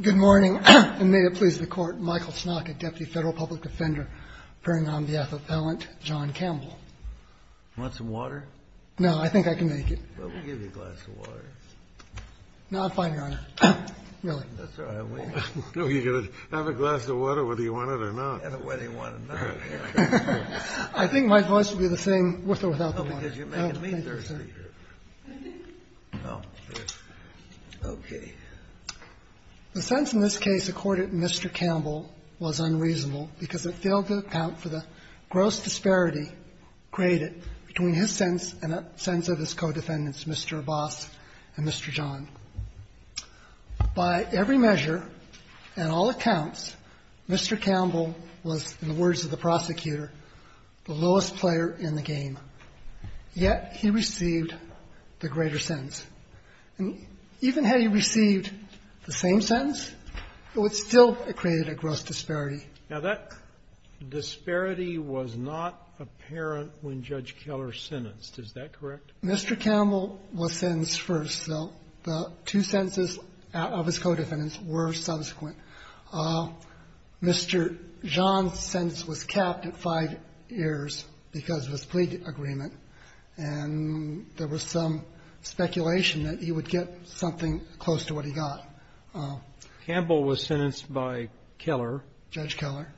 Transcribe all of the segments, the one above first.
Good morning, and may it please the Court, Michael Snock, a Deputy Federal Public Defender appearing on behalf of Appellant John Campbell. Want some water? No, I think I can make it. Well, we'll give you a glass of water. No, I'm fine, Your Honor. Really. That's all right. Have a glass of water whether you want it or not. Whether you want it or not. I think my voice will be the same with or without the water. Oh, because you're making me thirsty. Okay. The sentence in this case accorded to Mr. Campbell was unreasonable because it failed to account for the gross disparity created between his sense and the sense of his co-defendants, Mr. Abbas and Mr. John. By every measure and all accounts, Mr. Campbell was, in the words of the prosecutor, the lowest player in the game. Yet he received the greater sentence. And even had he received the same sentence, it would still have created a gross disparity. Now, that disparity was not apparent when Judge Keller sentenced. Is that correct? Mr. Campbell was sentenced first, so the two sentences of his co-defendants were subsequent. Mr. John's sentence was capped at five years because of his plea agreement. And there was some speculation that he would get something close to what he got. Campbell was sentenced by Keller. Judge Keller.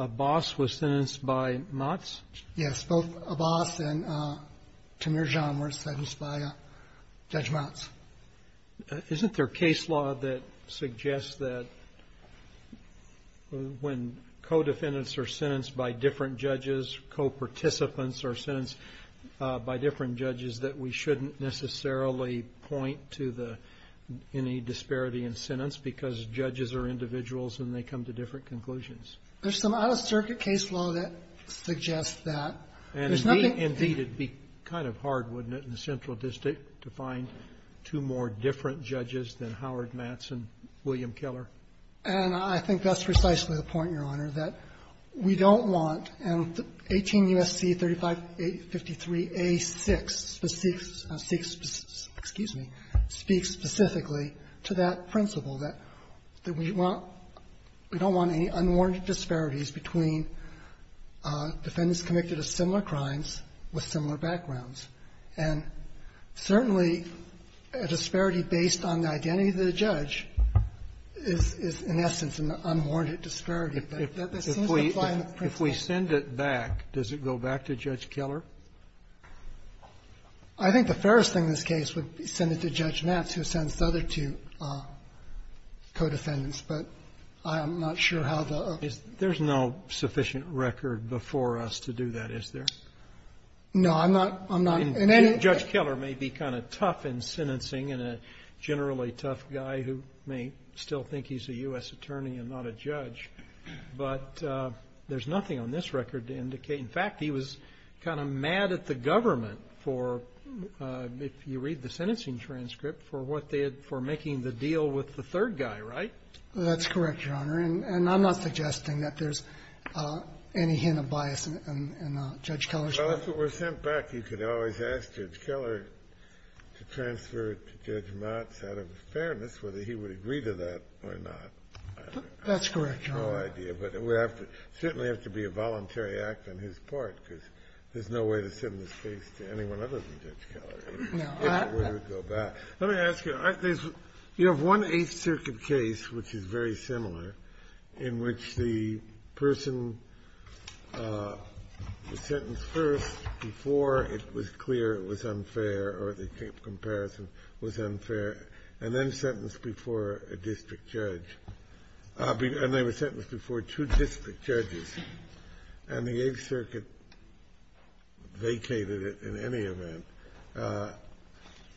Abbas was sentenced by Motz. Yes. Both Abbas and Tamir John were sentenced by Judge Motz. Isn't there case law that suggests that when co-defendants are sentenced by different judges, co-participants are sentenced by different judges, that we shouldn't necessarily point to the any disparity in sentence because judges are individuals and they come to different conclusions? There's some out-of-circuit case law that suggests that. And, indeed, it would be kind of hard, wouldn't it, in the Central District to find two more different judges than Howard Matz and William Keller? And I think that's precisely the point, Your Honor, that we don't want, and 18 U.S.C. 3553a6 speaks specifically to that principle, that we don't want any unwarranted disparities between defendants convicted of similar crimes with similar backgrounds. And, certainly, a disparity based on the identity of the judge is, in essence, an unwarranted disparity, but that seems to apply in the principle. If we send it back, does it go back to Judge Keller? I think the fairest thing in this case would be to send it to Judge Matz, who sends I don't know about this other two co-defendants, but I'm not sure how the other two. There's no sufficient record before us to do that, is there? No, I'm not. I'm not. Judge Keller may be kind of tough in sentencing and a generally tough guy who may still think he's a U.S. attorney and not a judge, but there's nothing on this record to indicate. In fact, he was kind of mad at the government for, if you read the sentencing transcript, for what they had for making the deal with the third guy, right? That's correct, Your Honor. And I'm not suggesting that there's any hint of bias in Judge Keller's record. Well, if it were sent back, you could always ask Judge Keller to transfer it to Judge Matz out of fairness, whether he would agree to that or not. That's correct, Your Honor. I have no idea. But it would certainly have to be a voluntary act on his part, because there's no way to send this case to anyone other than Judge Keller. There's no way it would go back. Let me ask you. You have one Eighth Circuit case, which is very similar, in which the person was sentenced first before it was clear it was unfair or the comparison was unfair and then sentenced before a district judge. And they were sentenced before two district judges. And the Eighth Circuit vacated it in any event.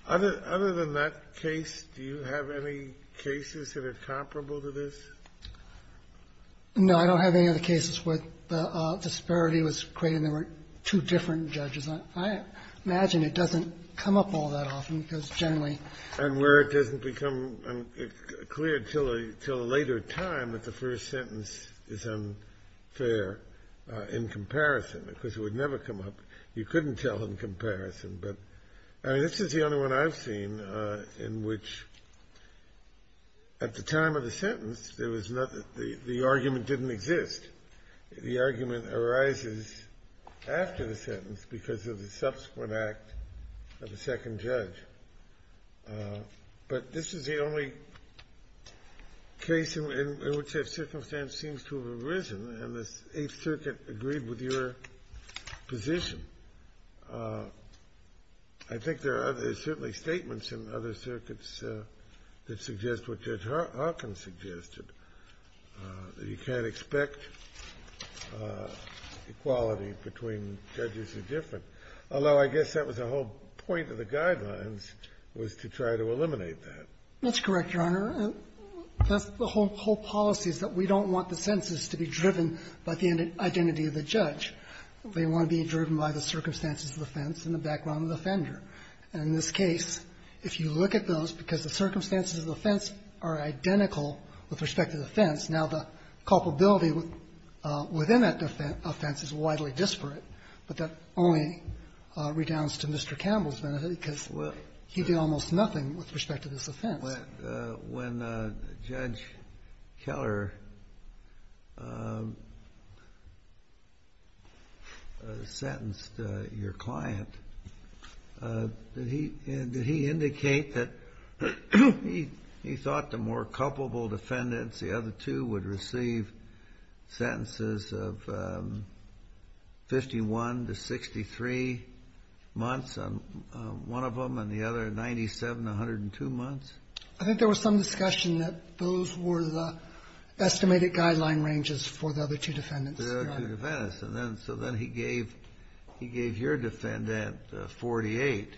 Other than that case, do you have any cases that are comparable to this? No. I don't have any other cases where the disparity was great and there weren't two different judges. Where it doesn't become clear until a later time that the first sentence is unfair in comparison, because it would never come up. You couldn't tell in comparison. But, I mean, this is the only one I've seen in which, at the time of the sentence, there was nothing. The argument didn't exist. The argument arises after the sentence because of the subsequent act of the second judge. But this is the only case in which that circumstance seems to have arisen, and the Eighth Circuit agreed with your position. I think there are certainly statements in other circuits that suggest what Judge Sotomayor said. But I don't have any other cases where the equality between judges is different, although I guess that was the whole point of the Guidelines, was to try to eliminate that. That's correct, Your Honor. That's the whole policy, is that we don't want the sentences to be driven by the identity of the judge. They want to be driven by the circumstances of the offense and the background of the offender. And in this case, if you look at those, because the circumstances of the offense are identical with respect to the offense, now the culpability within that offense is widely disparate, but that only redounds to Mr. Campbell's benefit because he did almost nothing with respect to this offense. When Judge Keller sentenced your client, did he indicate that he thought the more culpable defendants, the other two, would receive sentences of 51 to 63 months, one of them and the other 97 to 102 months? I think there was some discussion that those were the estimated Guideline ranges for the other two defendants. The other two defendants. So then he gave your defendant 48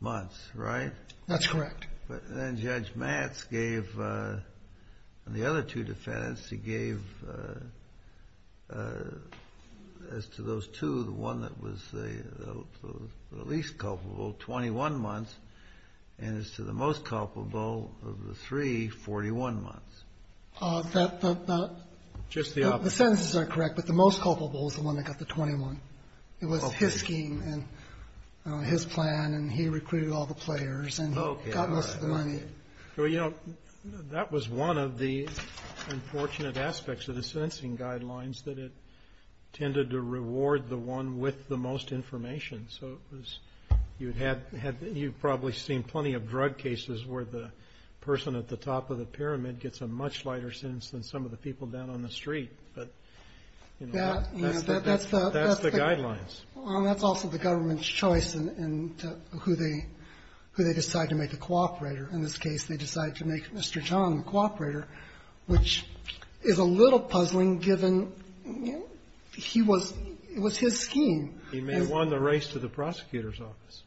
months, right? That's correct. But then Judge Matz gave the other two defendants, he gave, as to those two, the one that was the least culpable, 21 months, and as to the most culpable, of the three, 41 months. Just the opposite. The sentences are correct, but the most culpable is the one that got the 21. It was his scheme and his plan, and he recruited all the players. And he got most of the money. Okay. All right. Well, you know, that was one of the unfortunate aspects of the sentencing Guidelines, that it tended to reward the one with the most information. So it was you'd had you've probably seen plenty of drug cases where the person at the top of the pyramid gets a much lighter sentence than some of the people down on the street. But, you know, that's the Guidelines. Well, that's also the government's choice in who they decide to make the cooperator. In this case, they decide to make Mr. John the cooperator, which is a little puzzling, given he was his scheme. He may have won the race to the prosecutor's office.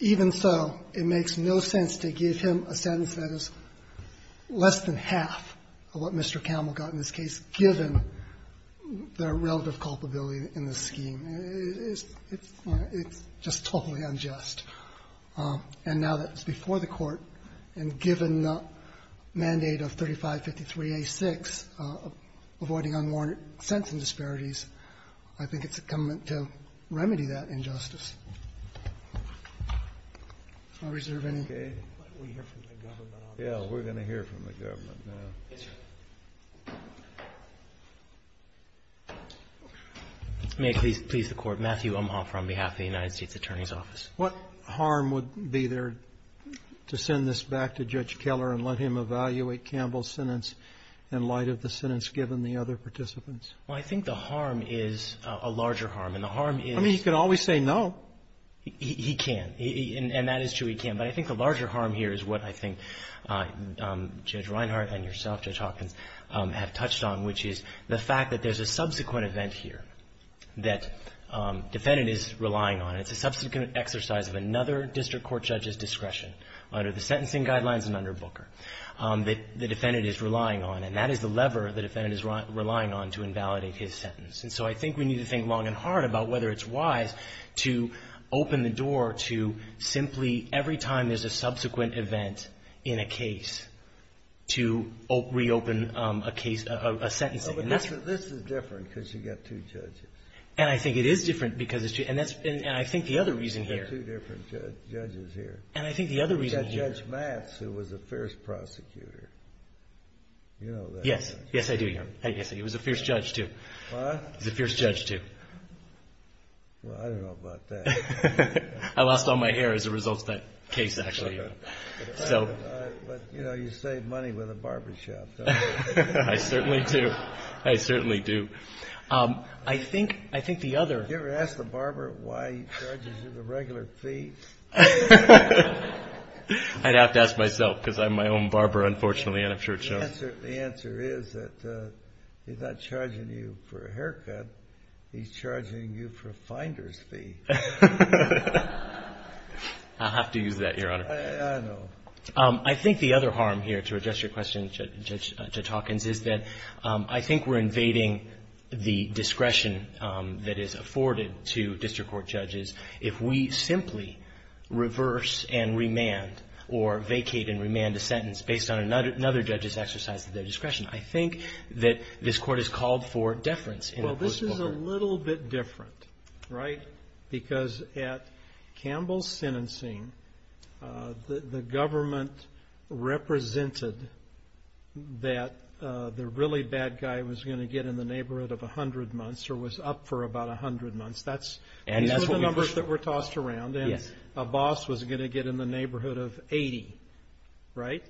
Even so, it makes no sense to give him a sentence that is less than half of what Mr. Camel got in this case, given the relative culpability in the scheme. It's just totally unjust. And now that it's before the Court, and given the mandate of 3553A6, avoiding unwarranted sentencing disparities, I think it's incumbent to remedy that injustice. I reserve any. Okay. We hear from the government on that. Yeah, we're going to hear from the government now. Yes, sir. May it please the Court. Matthew Umhofer on behalf of the United States Attorney's Office. What harm would be there to send this back to Judge Keller and let him evaluate Camel's sentence in light of the sentence given the other participants? Well, I think the harm is a larger harm, and the harm is — I mean, he could always say no. He can. And that is true. He can. But I think the larger harm here is what I think Judge Reinhart and yourself, Judge Hopkins, have touched on, which is the fact that there's a subsequent event here that defendant is relying on. It's a subsequent exercise of another district court judge's discretion, under the sentencing guidelines and under Booker, that the defendant is relying on. And that is the lever the defendant is relying on to invalidate his sentence. And so I think we need to think long and hard about whether it's wise to open the case, and at the same time, there's a subsequent event in a case to reopen a case — a sentencing. And that's — But this is different because you've got two judges. And I think it is different because it's — and that's — and I think the other reason here — You've got two different judges here. And I think the other reason here — You've got Judge Matz, who was a fierce prosecutor. You know that. Yes. Yes, I do, Your Honor. It was a fierce judge, too. What? He was a fierce judge, too. Well, I don't know about that. I lost all my hair as a result of that case, actually. So — But, you know, you save money with a barbershop, don't you? I certainly do. I certainly do. I think — I think the other — Did you ever ask the barber why he charges you the regular fee? I'd have to ask myself because I'm my own barber, unfortunately, and I'm sure it shows. The answer is that he's not charging you for a haircut. He's charging you for a finder's fee. I'll have to use that, Your Honor. I know. I think the other harm here, to address your question, Judge Hawkins, is that I think we're invading the discretion that is afforded to district court judges if we simply reverse and remand or vacate and remand a sentence based on another judge's exercise of their discretion. I think that this Court has called for deference. Well, this is a little bit different, right? Because at Campbell's sentencing, the government represented that the really bad guy was going to get in the neighborhood of 100 months or was up for about 100 months. That's — And that's what we pushed for. Those were the numbers that were tossed around. Yes. And a boss was going to get in the neighborhood of 80, right?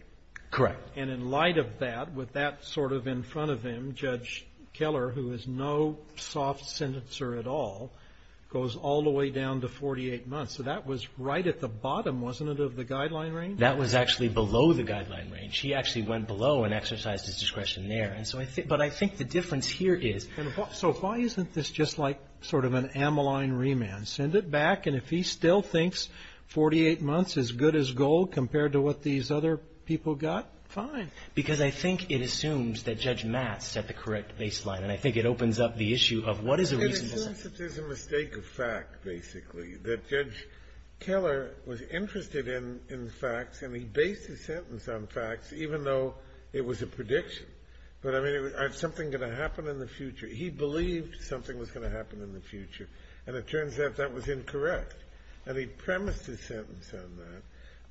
Correct. And in light of that, with that sort of in front of him, who is no soft sentencer at all, goes all the way down to 48 months. So that was right at the bottom, wasn't it, of the guideline range? That was actually below the guideline range. He actually went below and exercised his discretion there. And so I think — but I think the difference here is — So why isn't this just like sort of an amyline remand? Send it back, and if he still thinks 48 months is good as gold compared to what these other people got, fine. Because I think it assumes that Judge Matt set the correct baseline, and I think it opens up the issue of what is a reasonable — It assumes that there's a mistake of fact, basically, that Judge Keller was interested in facts, and he based his sentence on facts, even though it was a prediction. But, I mean, is something going to happen in the future? He believed something was going to happen in the future, and it turns out that was incorrect. And he premised his sentence on that.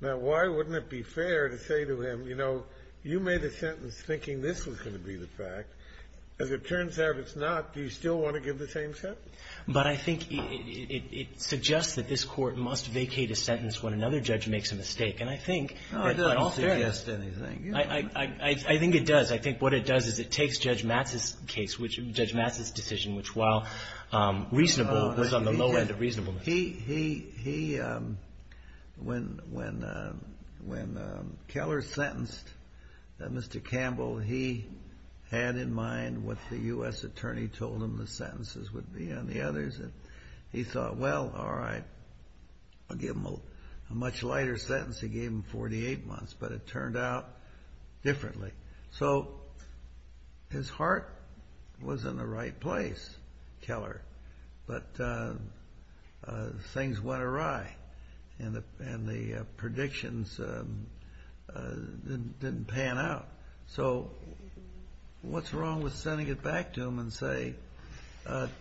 Now, why wouldn't it be fair to say to him, you know, you made a sentence thinking this was going to be the fact. As it turns out it's not, do you still want to give the same sentence? But I think it suggests that this Court must vacate a sentence when another judge makes a mistake. And I think, in all fairness — No, it doesn't suggest anything. I think it does. I think what it does is it takes Judge Matt's case, which — Judge Matt's decision, which, while reasonable, was on the low end of reasonableness. He, when Keller sentenced Mr. Campbell, he had in mind what the U.S. attorney told him the sentences would be and the others. He thought, well, all right, I'll give him a much lighter sentence. He gave him 48 months, but it turned out differently. But things went awry, and the predictions didn't pan out. So what's wrong with sending it back to him and say,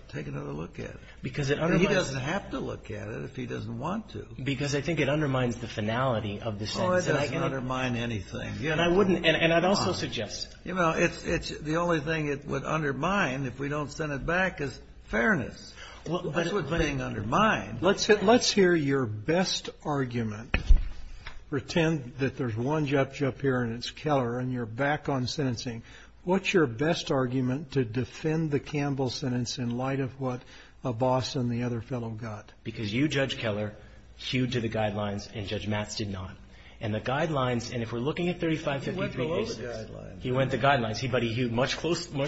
take another look at it? Because it undermines — He doesn't have to look at it if he doesn't want to. Because I think it undermines the finality of the sentence. Oh, it doesn't undermine anything. And I wouldn't — and I'd also suggest — You know, it's — the only thing it would undermine if we don't send it back is fairness. That's the only thing it would undermine. Let's hear your best argument. Pretend that there's one judge up here, and it's Keller, and you're back on sentencing. What's your best argument to defend the Campbell sentence in light of what Abbas and the other fellow got? Because you, Judge Keller, hewed to the guidelines, and Judge Matt's did not. And the guidelines — and if we're looking at 3553a6 — He went below the guidelines. He went to guidelines. But he hewed much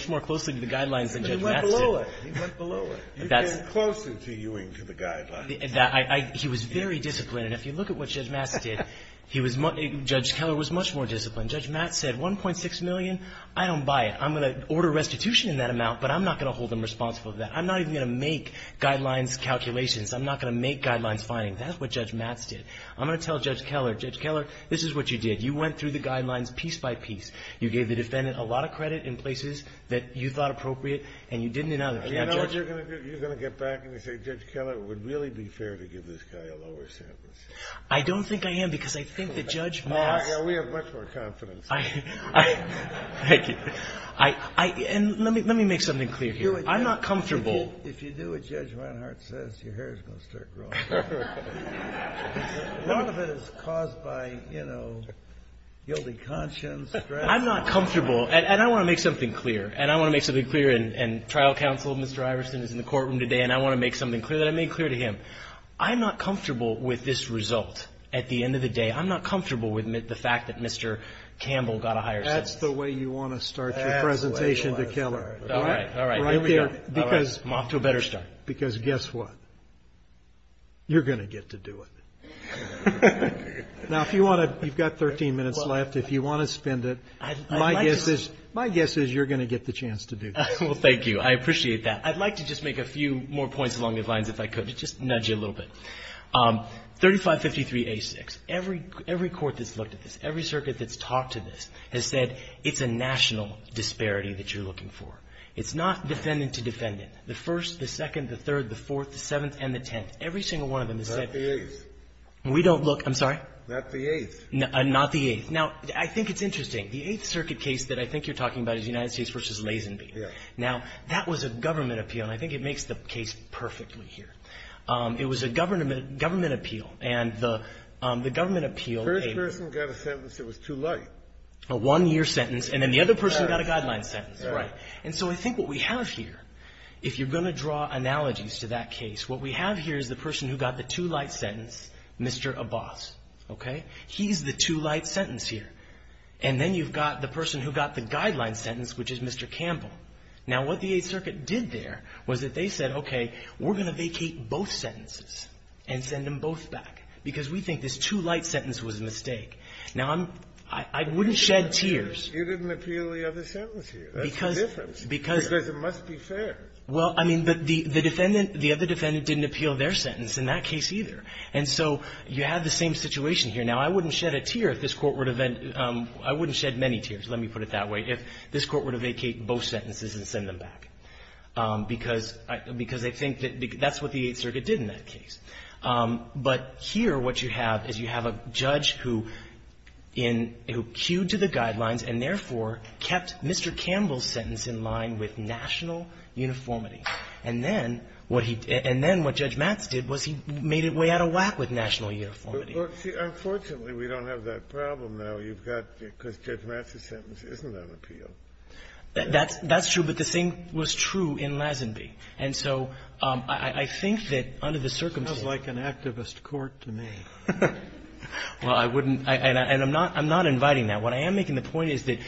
more closely to the guidelines than Judge Matt's did. He went below it. He went below it. You came closer to hewing to the guidelines. He was very disciplined. And if you look at what Judge Matt's did, he was — Judge Keller was much more disciplined. Judge Matt's said, 1.6 million? I don't buy it. I'm going to order restitution in that amount, but I'm not going to hold them responsible for that. I'm not even going to make guidelines calculations. I'm not going to make guidelines findings. That's what Judge Matt's did. I'm going to tell Judge Keller, Judge Keller, this is what you did. You went through the guidelines piece by piece. You gave the defendant a lot of credit in places that you thought appropriate and you didn't in others. You know what you're going to do? You're going to get back and you're going to say, Judge Keller, it would really be fair to give this guy a lower sentence. I don't think I am because I think that Judge Matt's — We have much more confidence in you. Thank you. And let me make something clear here. I'm not comfortable — If you do what Judge Reinhart says, your hair is going to start growing. A lot of it is caused by, you know, guilty conscience, stress. I'm not comfortable — and I want to make something clear. And I want to make something clear. And trial counsel, Mr. Iverson, is in the courtroom today, and I want to make something clear that I made clear to him. I'm not comfortable with this result at the end of the day. I'm not comfortable with the fact that Mr. Campbell got a higher sentence. That's the way you want to start your presentation to Keller. That's the way I want to start it. All right. All right. Here we go. All right. I'm off to a better start. Because guess what? You're going to get to do it. Now, if you want to — you've got 13 minutes left. If you want to spend it, my guess is you're going to get the chance to do that. Well, thank you. I appreciate that. I'd like to just make a few more points along those lines, if I could, to just nudge you a little bit. 3553A6, every court that's looked at this, every circuit that's talked to this, has said it's a national disparity that you're looking for. It's not defendant to defendant. The First, the Second, the Third, the Fourth, the Seventh, and the Tenth. Every single one of them has said — Not the Eighth. We don't look — I'm sorry? Not the Eighth. Not the Eighth. Now, I think it's interesting. The Eighth Circuit case that I think you're talking about is United States v. Lazenby. Now, that was a government appeal, and I think it makes the case perfectly here. It was a government appeal, and the government appeal — The first person got a sentence that was too light. A one-year sentence, and then the other person got a guideline sentence. Right. And so I think what we have here, if you're going to draw analogies to that case, what we have here is the person who got the too-light sentence, Mr. Abbas. Okay? He's the too-light sentence here. And then you've got the person who got the guideline sentence, which is Mr. Campbell. Now, what the Eighth Circuit did there was that they said, okay, we're going to vacate both sentences and send them both back, because we think this too-light sentence was a mistake. Now, I'm — I wouldn't shed tears. You didn't appeal the other sentence here. That's the difference. Because — Because it must be fair. Well, I mean, but the defendant — the other defendant didn't appeal their sentence in that case either. And so you have the same situation here. Now, I wouldn't shed a tear if this Court would have — I wouldn't shed many tears, let me put it that way, if this Court were to vacate both sentences and send them back, because I think that's what the Eighth Circuit did in that case. But here what you have is you have a judge who in — who cued to the guidelines and therefore kept Mr. Campbell's sentence in line with national uniformity. And then what he — and then what Judge Matz did was he made it way out of whack with national uniformity. But, see, unfortunately, we don't have that problem now. You've got — because Judge Matz's sentence isn't on appeal. That's — that's true. But the same was true in Lazenby. And so I think that under the circumstances — It sounds like an activist court to me. Well, I wouldn't — and I'm not — I'm not inviting that. What I am making the point is that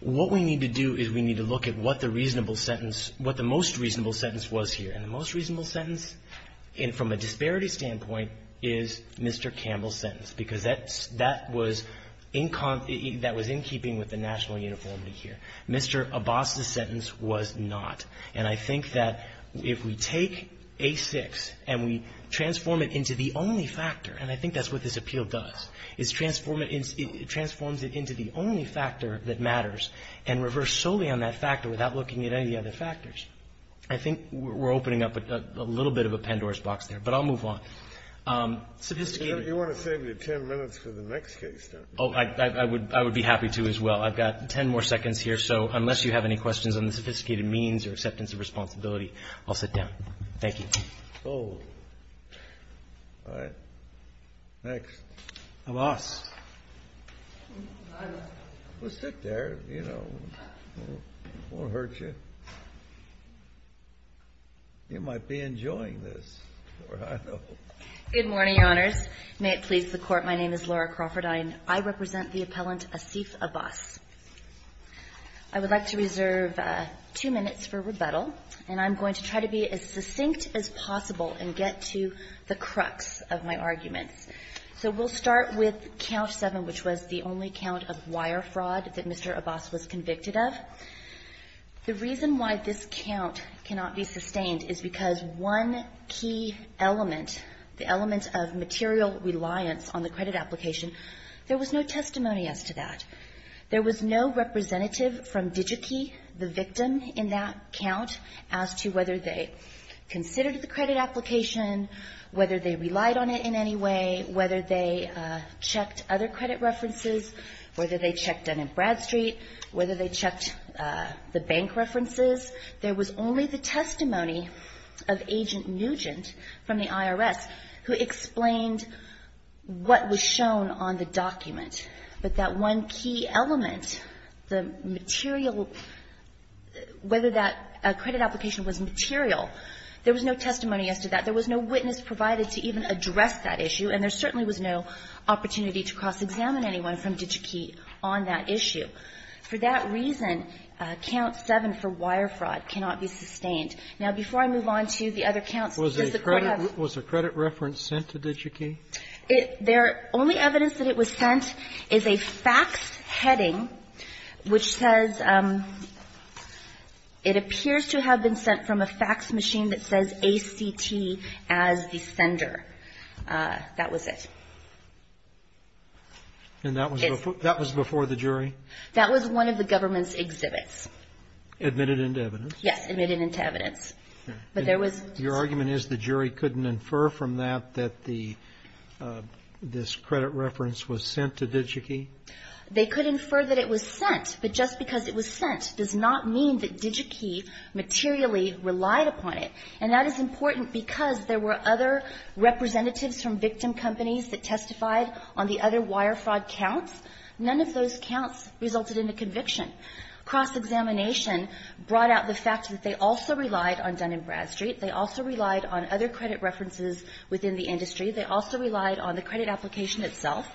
what we need to do is we need to look at what the reasonable sentence — what the most reasonable sentence was here. And the most reasonable sentence from a disparity standpoint is Mr. Campbell's sentence, because that's — that was in — that was in keeping with the national uniformity here. Mr. Abbas's sentence was not. And I think that if we take A-6 and we transform it into the only factor, and I think that's what this appeal does, is transform it — transforms it into the only factor that matters, and reverse solely on that factor without looking at any other factors, I think we're opening up a little bit of a Pandora's box there. But I'll move on. Sophisticated — You want to save me 10 minutes for the next case, though. Oh, I would — I would be happy to as well. I've got 10 more seconds here. So unless you have any questions on the sophisticated means or acceptance of responsibility, I'll sit down. Thank you. All right. Next. Abbas. Well, sit there. You know, it won't hurt you. You might be enjoying this. Good morning, Your Honors. May it please the Court. My name is Laura Crawford. I represent the appellant Asif Abbas. I would like to reserve two minutes for rebuttal, and I'm going to try to be as succinct as possible and get to the crux of my arguments. So we'll start with Count 7, which was the only count of wire fraud that Mr. Abbas was convicted of. The reason why this count cannot be sustained is because one key element, the element of material reliance on the credit application, there was no testimony as to that. There was no representative from Digi-Key, the victim in that count, as to whether they considered the credit application, whether they relied on it in any way, whether they checked other credit references, whether they checked Dun and Bradstreet, whether they checked the bank references. There was only the testimony of Agent Nugent from the IRS who explained what was shown on the document, but that one key element, the material, whether that credit application was material, there was no testimony as to that. There was no witness provided to even address that issue, and there certainly was no opportunity to cross-examine anyone from Digi-Key on that issue. For that reason, Count 7 for wire fraud cannot be sustained. Now, before I move on to the other counts that the Court has. Was a credit reference sent to Digi-Key? The only evidence that it was sent is a fax heading which says it appears to have been sent from a fax machine that says A.C.T. as the sender. That was it. And that was before the jury? That was one of the government's exhibits. Admitted into evidence? Yes, admitted into evidence. Your argument is the jury couldn't infer from that that this credit reference was sent to Digi-Key? They could infer that it was sent, but just because it was sent does not mean that Digi-Key materially relied upon it. And that is important because there were other representatives from victim companies that testified on the other wire fraud counts. None of those counts resulted in a conviction. Cross-examination brought out the fact that they also relied on Dun & Bradstreet. They also relied on other credit references within the industry. They also relied on the credit application itself.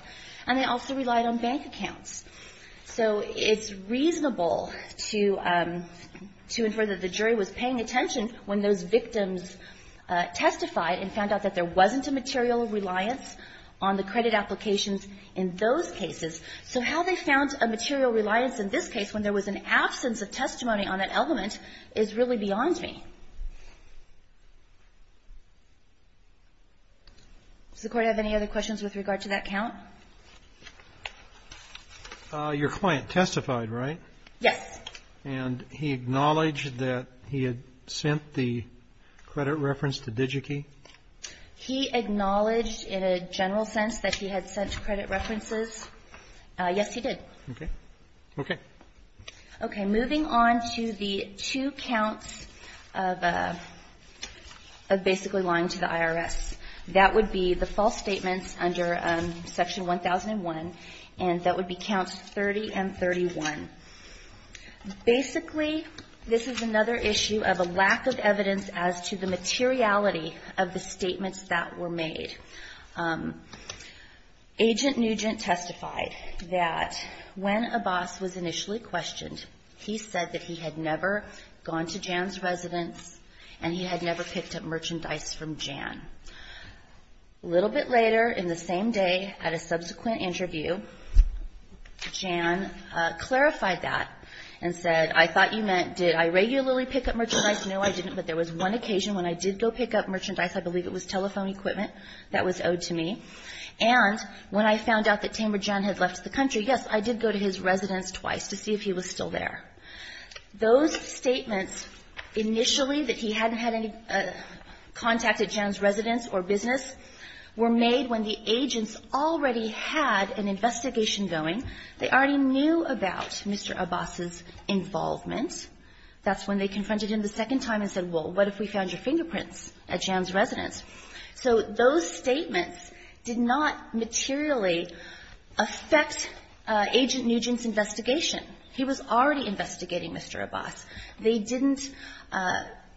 And they also relied on bank accounts. So it's reasonable to infer that the jury was paying attention when those victims testified and found out that there wasn't a material reliance on the credit applications in those cases. So how they found a material reliance in this case when there was an absence of testimony on that element is really beyond me. Does the Court have any other questions with regard to that count? Your client testified, right? Yes. And he acknowledged that he had sent the credit reference to Digi-Key? He acknowledged in a general sense that he had sent credit references. Yes, he did. Okay. Okay. Okay. Moving on to the two counts of basically lying to the IRS. That would be the false statements under Section 1001, and that would be counts 30 and 31. Basically, this is another issue of a lack of evidence as to the materiality of the statements that were made. Agent Nugent testified that when Abbas was initially questioned, he said that he had never gone to Jan's residence and he had never picked up merchandise from Jan. A little bit later in the same day at a subsequent interview, Jan clarified that and said, I thought you meant did I regularly pick up merchandise? No, I didn't, but there was one occasion when I did go pick up merchandise. I believe it was telephone equipment that was owed to me. And when I found out that Tamer Jan had left the country, yes, I did go to his residence or business, were made when the agents already had an investigation going. They already knew about Mr. Abbas's involvement. That's when they confronted him the second time and said, well, what if we found your fingerprints at Jan's residence? So those statements did not materially affect Agent Nugent's investigation. He was already investigating Mr. Abbas. They didn't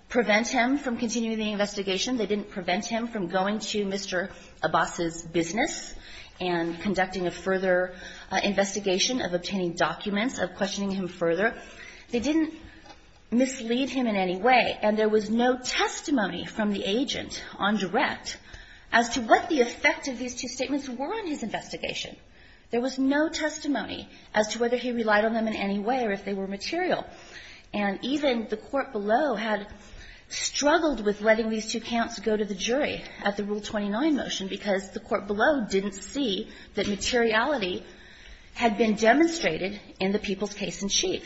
prevent him from continuing the investigation. They didn't prevent him from going to Mr. Abbas's business and conducting a further investigation of obtaining documents, of questioning him further. They didn't mislead him in any way. And there was no testimony from the agent on direct as to what the effect of these two statements were on his investigation. There was no testimony as to whether he relied on them in any way or if they were material. And even the court below had struggled with letting these two counts go to the jury at the Rule 29 motion, because the court below didn't see that materiality had been demonstrated in the people's case-in-chief.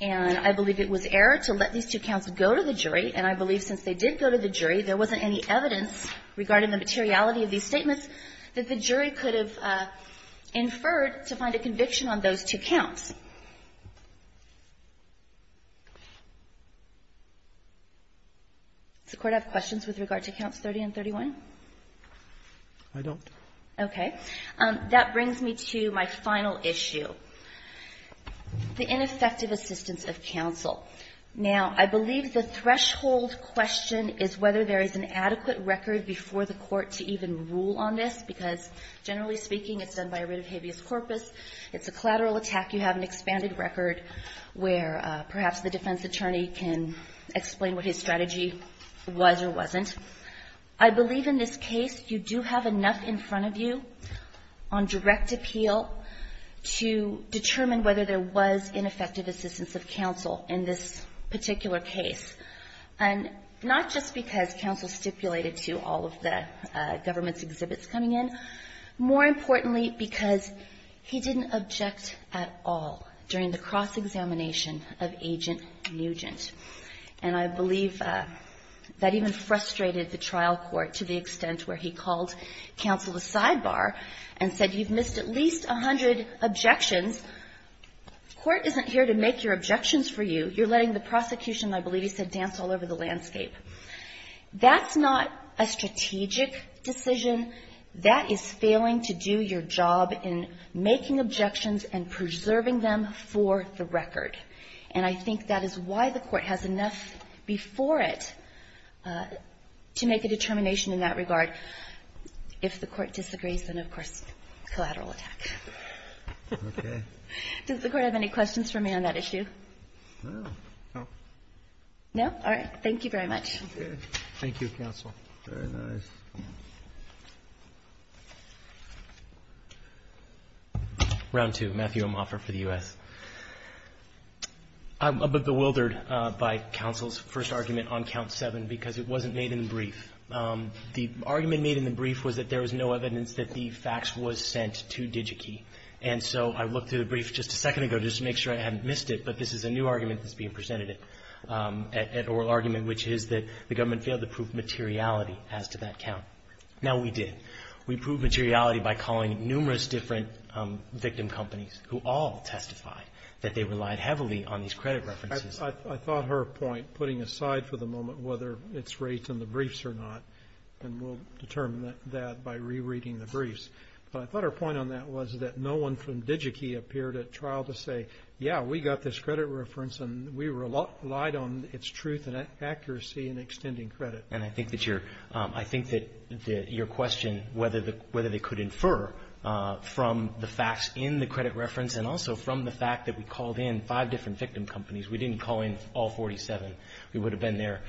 And I believe it was error to let these two counts go to the jury. And I believe since they did go to the jury, there wasn't any evidence regarding the materiality of these statements that the jury could have inferred to find a conviction on those two counts. Does the Court have questions with regard to Counts 30 and 31? I don't. Okay. That brings me to my final issue. The ineffective assistance of counsel. Now, I believe the threshold question is whether there is an adequate record before the Court to even rule on this, because generally speaking, it's done by a writ of habeas corpus. It's a collateral attack. You have an expanded record where perhaps the defense attorney can explain what his strategy was or wasn't. I believe in this case you do have enough in front of you on direct appeal to determine whether there was ineffective assistance of counsel in this particular case, and not just because counsel stipulated to all of the government's exhibits coming in. More importantly, because he didn't object at all during the cross-examination of Agent Nugent. And I believe that even frustrated the trial court to the extent where he called counsel a sidebar and said, you've missed at least a hundred objections. Court isn't here to make your objections for you. You're letting the prosecution, I believe he said, dance all over the landscape. That's not a strategic decision. That is failing to do your job in making objections and preserving them for the record. And I think that is why the Court has enough before it to make a determination in that regard. If the Court disagrees, then, of course, collateral attack. Does the Court have any questions for me on that issue? No? All right. Thank you very much. Thank you, counsel. Very nice. Round two. Matthew Omoffer for the U.S. I'm a bit bewildered by counsel's first argument on count seven because it wasn't made in the brief. The argument made in the brief was that there was no evidence that the fax was sent to DigiKey. And so I looked through the brief just a second ago just to make sure I hadn't missed it, but this is a new argument that's being presented at oral argument, which is that the government failed to prove materiality as to that count. Now, we did. We proved materiality by calling numerous different victim companies who all testified that they relied heavily on these credit references. I thought her point, putting aside for the moment whether it's raised in the briefs or not, and we'll determine that by rereading the briefs, but I thought her point on that was that no one from DigiKey appeared at trial to say, yeah, we got this credit reference, and we relied on its truth and accuracy in extending credit. And I think that your question, whether they could infer from the fax in the credit reference and also from the fact that we called in five different victim companies we didn't call in all 47. We would have been there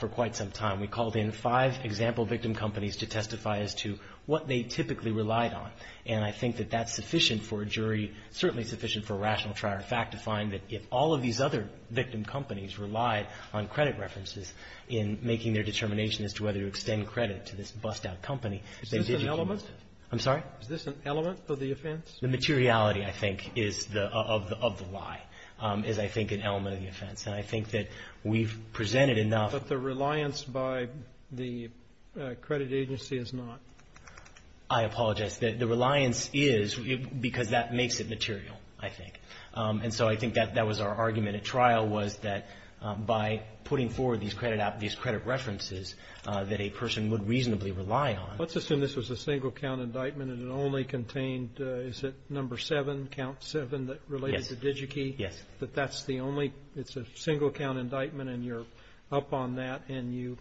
for quite some time. We called in five example victim companies to testify as to what they typically relied on. And I think that that's sufficient for a jury, certainly sufficient for a rational trial. In fact, to find that if all of these other victim companies relied on credit references in making their determination as to whether to extend credit to this bust-out company, that DigiKey was an element. I'm sorry? Is this an element of the offense? The materiality, I think, is the of the lie is, I think, an element of the offense. And I think that we've presented enough. But the reliance by the credit agency is not. I apologize. The reliance is because that makes it material, I think. And so I think that that was our argument at trial was that by putting forward these credit references that a person would reasonably rely on. Let's assume this was a single count indictment and it only contained, is it number seven, count seven that related to DigiKey? Yes. That that's the only, it's a single count indictment and you're up on that and you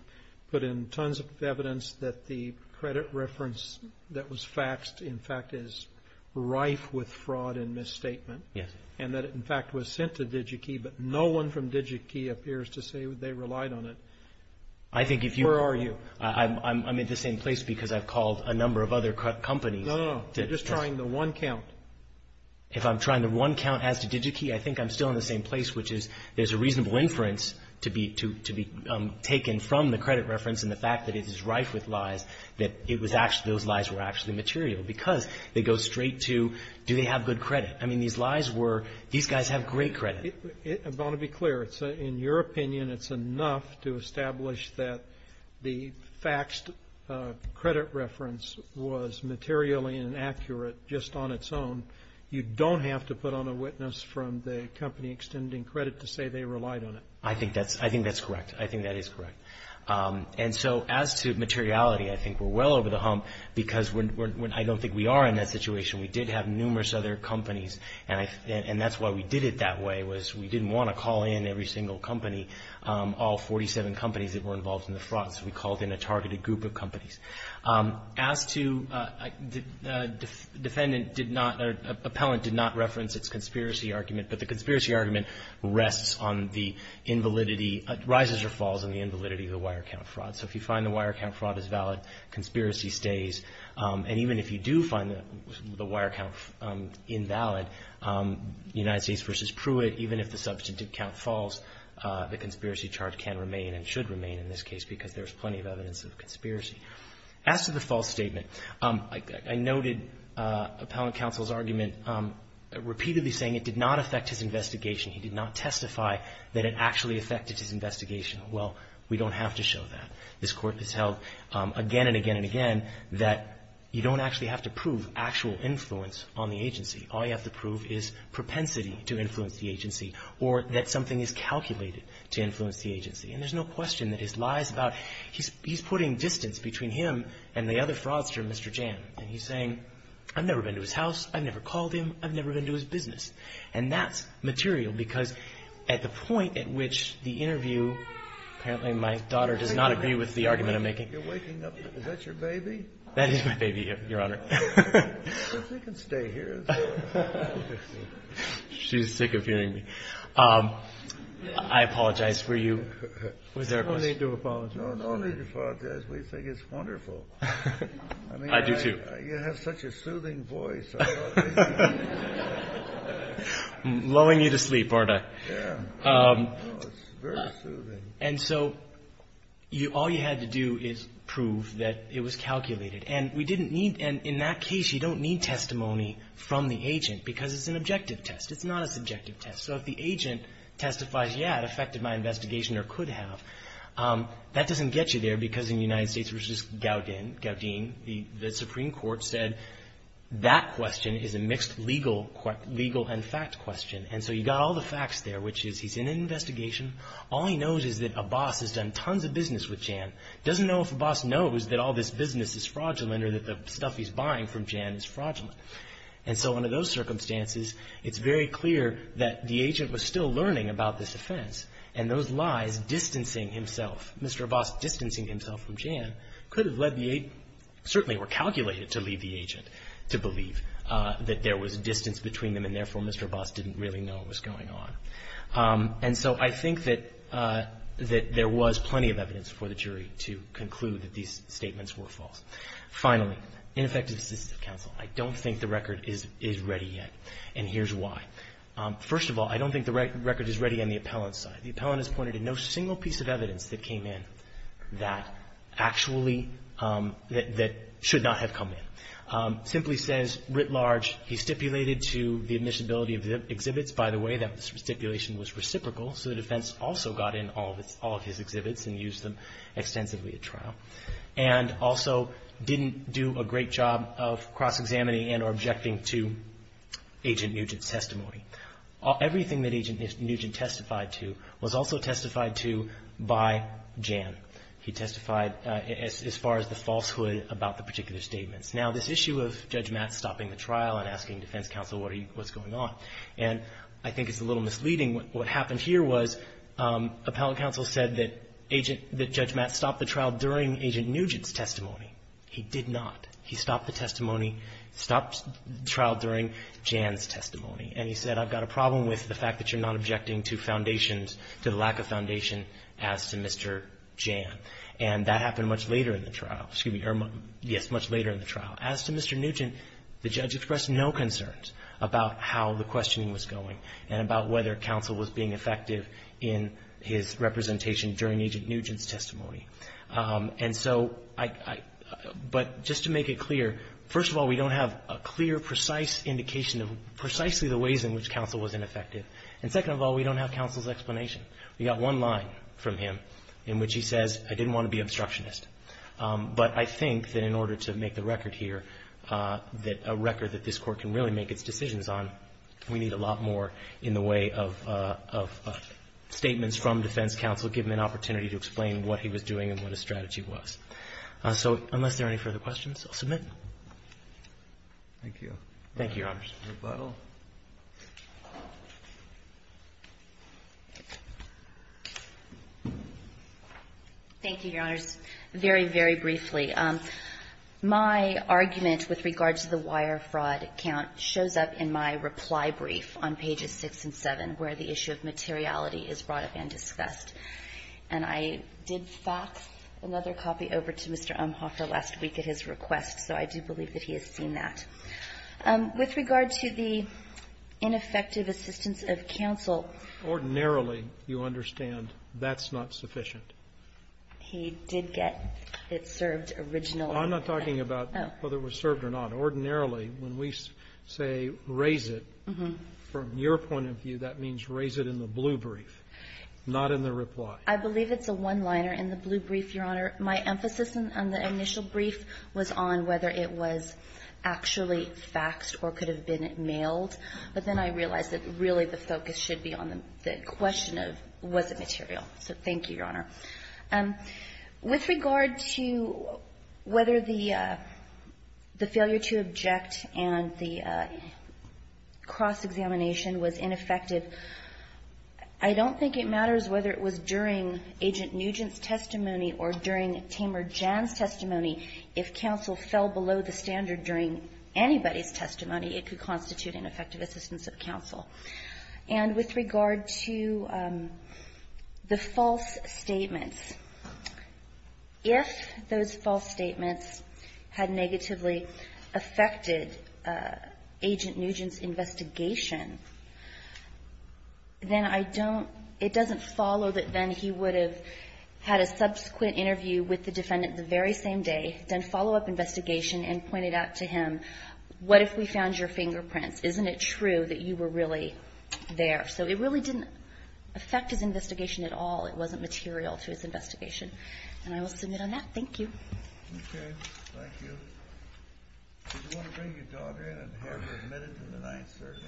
put in tons of evidence that the credit reference that was faxed, in fact, is rife with fraud and misstatement. Yes. And that, in fact, was sent to DigiKey, but no one from DigiKey appears to say they relied on it. I think if you. Where are you? I'm at the same place because I've called a number of other companies. No, no, no. You're just trying the one count. If I'm trying the one count as to DigiKey, I think I'm still in the same place, which is there's a reasonable inference to be taken from the credit reference and the fact that it is rife with lies that it was actually, those lies were actually material because they go straight to do they have good credit. I mean, these lies were, these guys have great credit. I want to be clear. In your opinion, it's enough to establish that the faxed credit reference was materially inaccurate just on its own. You don't have to put on a witness from the company extending credit to say they relied on it. I think that's correct. I think that is correct. And so as to materiality, I think we're well over the hump because I don't think we are in that situation. We did have numerous other companies, and that's why we did it that way, was we didn't want to call in every single company, all 47 companies that were involved in the fraud, so we called in a targeted group of companies. As to defendant did not, or appellant did not reference its conspiracy argument, but the conspiracy argument rests on the invalidity, rises or falls on the invalidity of the wire count fraud. So if you find the wire count fraud is valid, conspiracy stays. And even if you do find the wire count invalid, United States v. Pruitt, even if the substantive count falls, the conspiracy charge can remain and should remain in this case because there's plenty of evidence of conspiracy. As to the false statement, I noted appellant counsel's argument repeatedly saying it did not affect his investigation. He did not testify that it actually affected his investigation. Well, we don't have to show that. This Court has held again and again and again that you don't actually have to prove actual influence on the agency. All you have to prove is propensity to influence the agency or that something is calculated to influence the agency. And there's no question that his lies about he's putting distance between him and the other fraudster, Mr. Jan. And he's saying, I've never been to his house. I've never called him. I've never been to his business. And that's material because at the point at which the interview, apparently my daughter does not agree with the argument I'm making. You're waking up. Is that your baby? That is my baby, Your Honor. She can stay here. She's sick of hearing me. I apologize for you. Was there a question? No need to apologize. No need to apologize. We think it's wonderful. I do, too. You have such a soothing voice. I'm lulling you to sleep, aren't I? Yeah. It's very soothing. And so all you had to do is prove that it was calculated. And we didn't need to. And in that case, you don't need testimony from the agent because it's an objective test. It's not a subjective test. So if the agent testifies, yeah, it affected my investigation or could have, that doesn't get you there because in the United States versus Gaudin, the Supreme Court said that question is a mixed legal and fact question. And so you've got all the facts there, which is he's in an investigation. All he knows is that a boss has done tons of business with Jan. He doesn't know if a boss knows that all this business is fraudulent or that the stuff he's buying from Jan is fraudulent. And so under those circumstances, it's very clear that the agent was still learning about this offense. And those lies distancing himself, Mr. Abbas distancing himself from Jan, could have led the agent, certainly were calculated to lead the agent to believe that there was a distance between them, and therefore Mr. Abbas didn't really know what was going on. And so I think that there was plenty of evidence for the jury to conclude that these statements were false. Finally, ineffective assistive counsel. I don't think the record is ready yet, and here's why. First of all, I don't think the record is ready on the appellant's side. The appellant has pointed to no single piece of evidence that came in that actually that should not have come in. Simply says, writ large, he stipulated to the admissibility of the exhibits. By the way, that stipulation was reciprocal, so the defense also got in all of his exhibits and used them extensively at trial. And also didn't do a great job of cross-examining and or objecting to Agent Nugent's testimony. Everything that Agent Nugent testified to was also testified to by Jan. He testified as far as the falsehood about the particular statements. Now, this issue of Judge Matt stopping the trial and asking defense counsel what's going on, and I think it's a little misleading. What happened here was appellant counsel said that Agent — that Judge Matt stopped the trial during Agent Nugent's testimony. He did not. He stopped the testimony — stopped the trial during Jan's testimony. And he said, I've got a problem with the fact that you're not objecting to foundations — to the lack of foundation as to Mr. Jan. And that happened much later in the trial. Excuse me. Yes, much later in the trial. As to Mr. Nugent, the judge expressed no concerns about how the questioning was going and about whether counsel was being effective in his representation during Agent Nugent's testimony. And so I — but just to make it clear, first of all, we don't have a clear, precise indication of precisely the ways in which counsel was ineffective. And second of all, we don't have counsel's explanation. We've got one line from him in which he says, I didn't want to be obstructionist. But I think that in order to make the record here that a record that this Court can really make its decisions on, we need a lot more in the way of statements from defense counsel giving an opportunity to explain what he was doing and what his strategy was. So unless there are any further questions, I'll submit. Thank you. Thank you, Your Honors. Ms. Butler. Thank you, Your Honors. Very, very briefly, my argument with regard to the wire fraud account shows up in my reply brief on pages 6 and 7, where the issue of materiality is brought up and discussed. And I did fax another copy over to Mr. Umhoffer last week at his request, so I do believe that he has seen that. With regard to the ineffective assistance of counsel — Ordinarily, you understand that's not sufficient. He did get it served originally. I'm not talking about whether it was served or not. Ordinarily, when we say raise it, from your point of view, that means raise it in the blue brief, not in the reply. I believe it's a one-liner in the blue brief, Your Honor. My emphasis on the initial brief was on whether it was actually faxed or could have been mailed. But then I realized that really the focus should be on the question of was it material. So thank you, Your Honor. With regard to whether the failure to object and the cross-examination was ineffective, I don't think it matters whether it was during Agent Nugent's testimony or during Tamer Jan's testimony. If counsel fell below the standard during anybody's testimony, it could constitute ineffective assistance of counsel. And with regard to the false statements, if those false statements had negatively affected Agent Nugent's investigation, then I don't — it doesn't follow that then he would have had a subsequent interview with the defendant the very same day, done follow-up investigation, and pointed out to him, what if we found your fingerprints? Isn't it true that you were really there? So it really didn't affect his investigation at all. It wasn't material to his investigation. And I will submit on that. Thank you. Okay. Thank you. Did you want to bring your daughter in and have her admitted to the ninth circuit?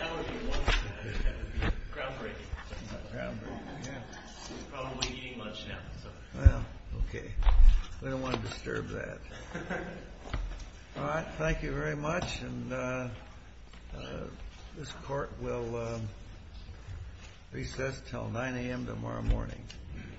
That would be one step ahead of you. Groundbreaking. Groundbreaking, yeah. She's probably eating lunch now, so. Well, okay. We don't want to disturb that. All right. Thank you very much. And this court will recess until 9 a.m. tomorrow morning.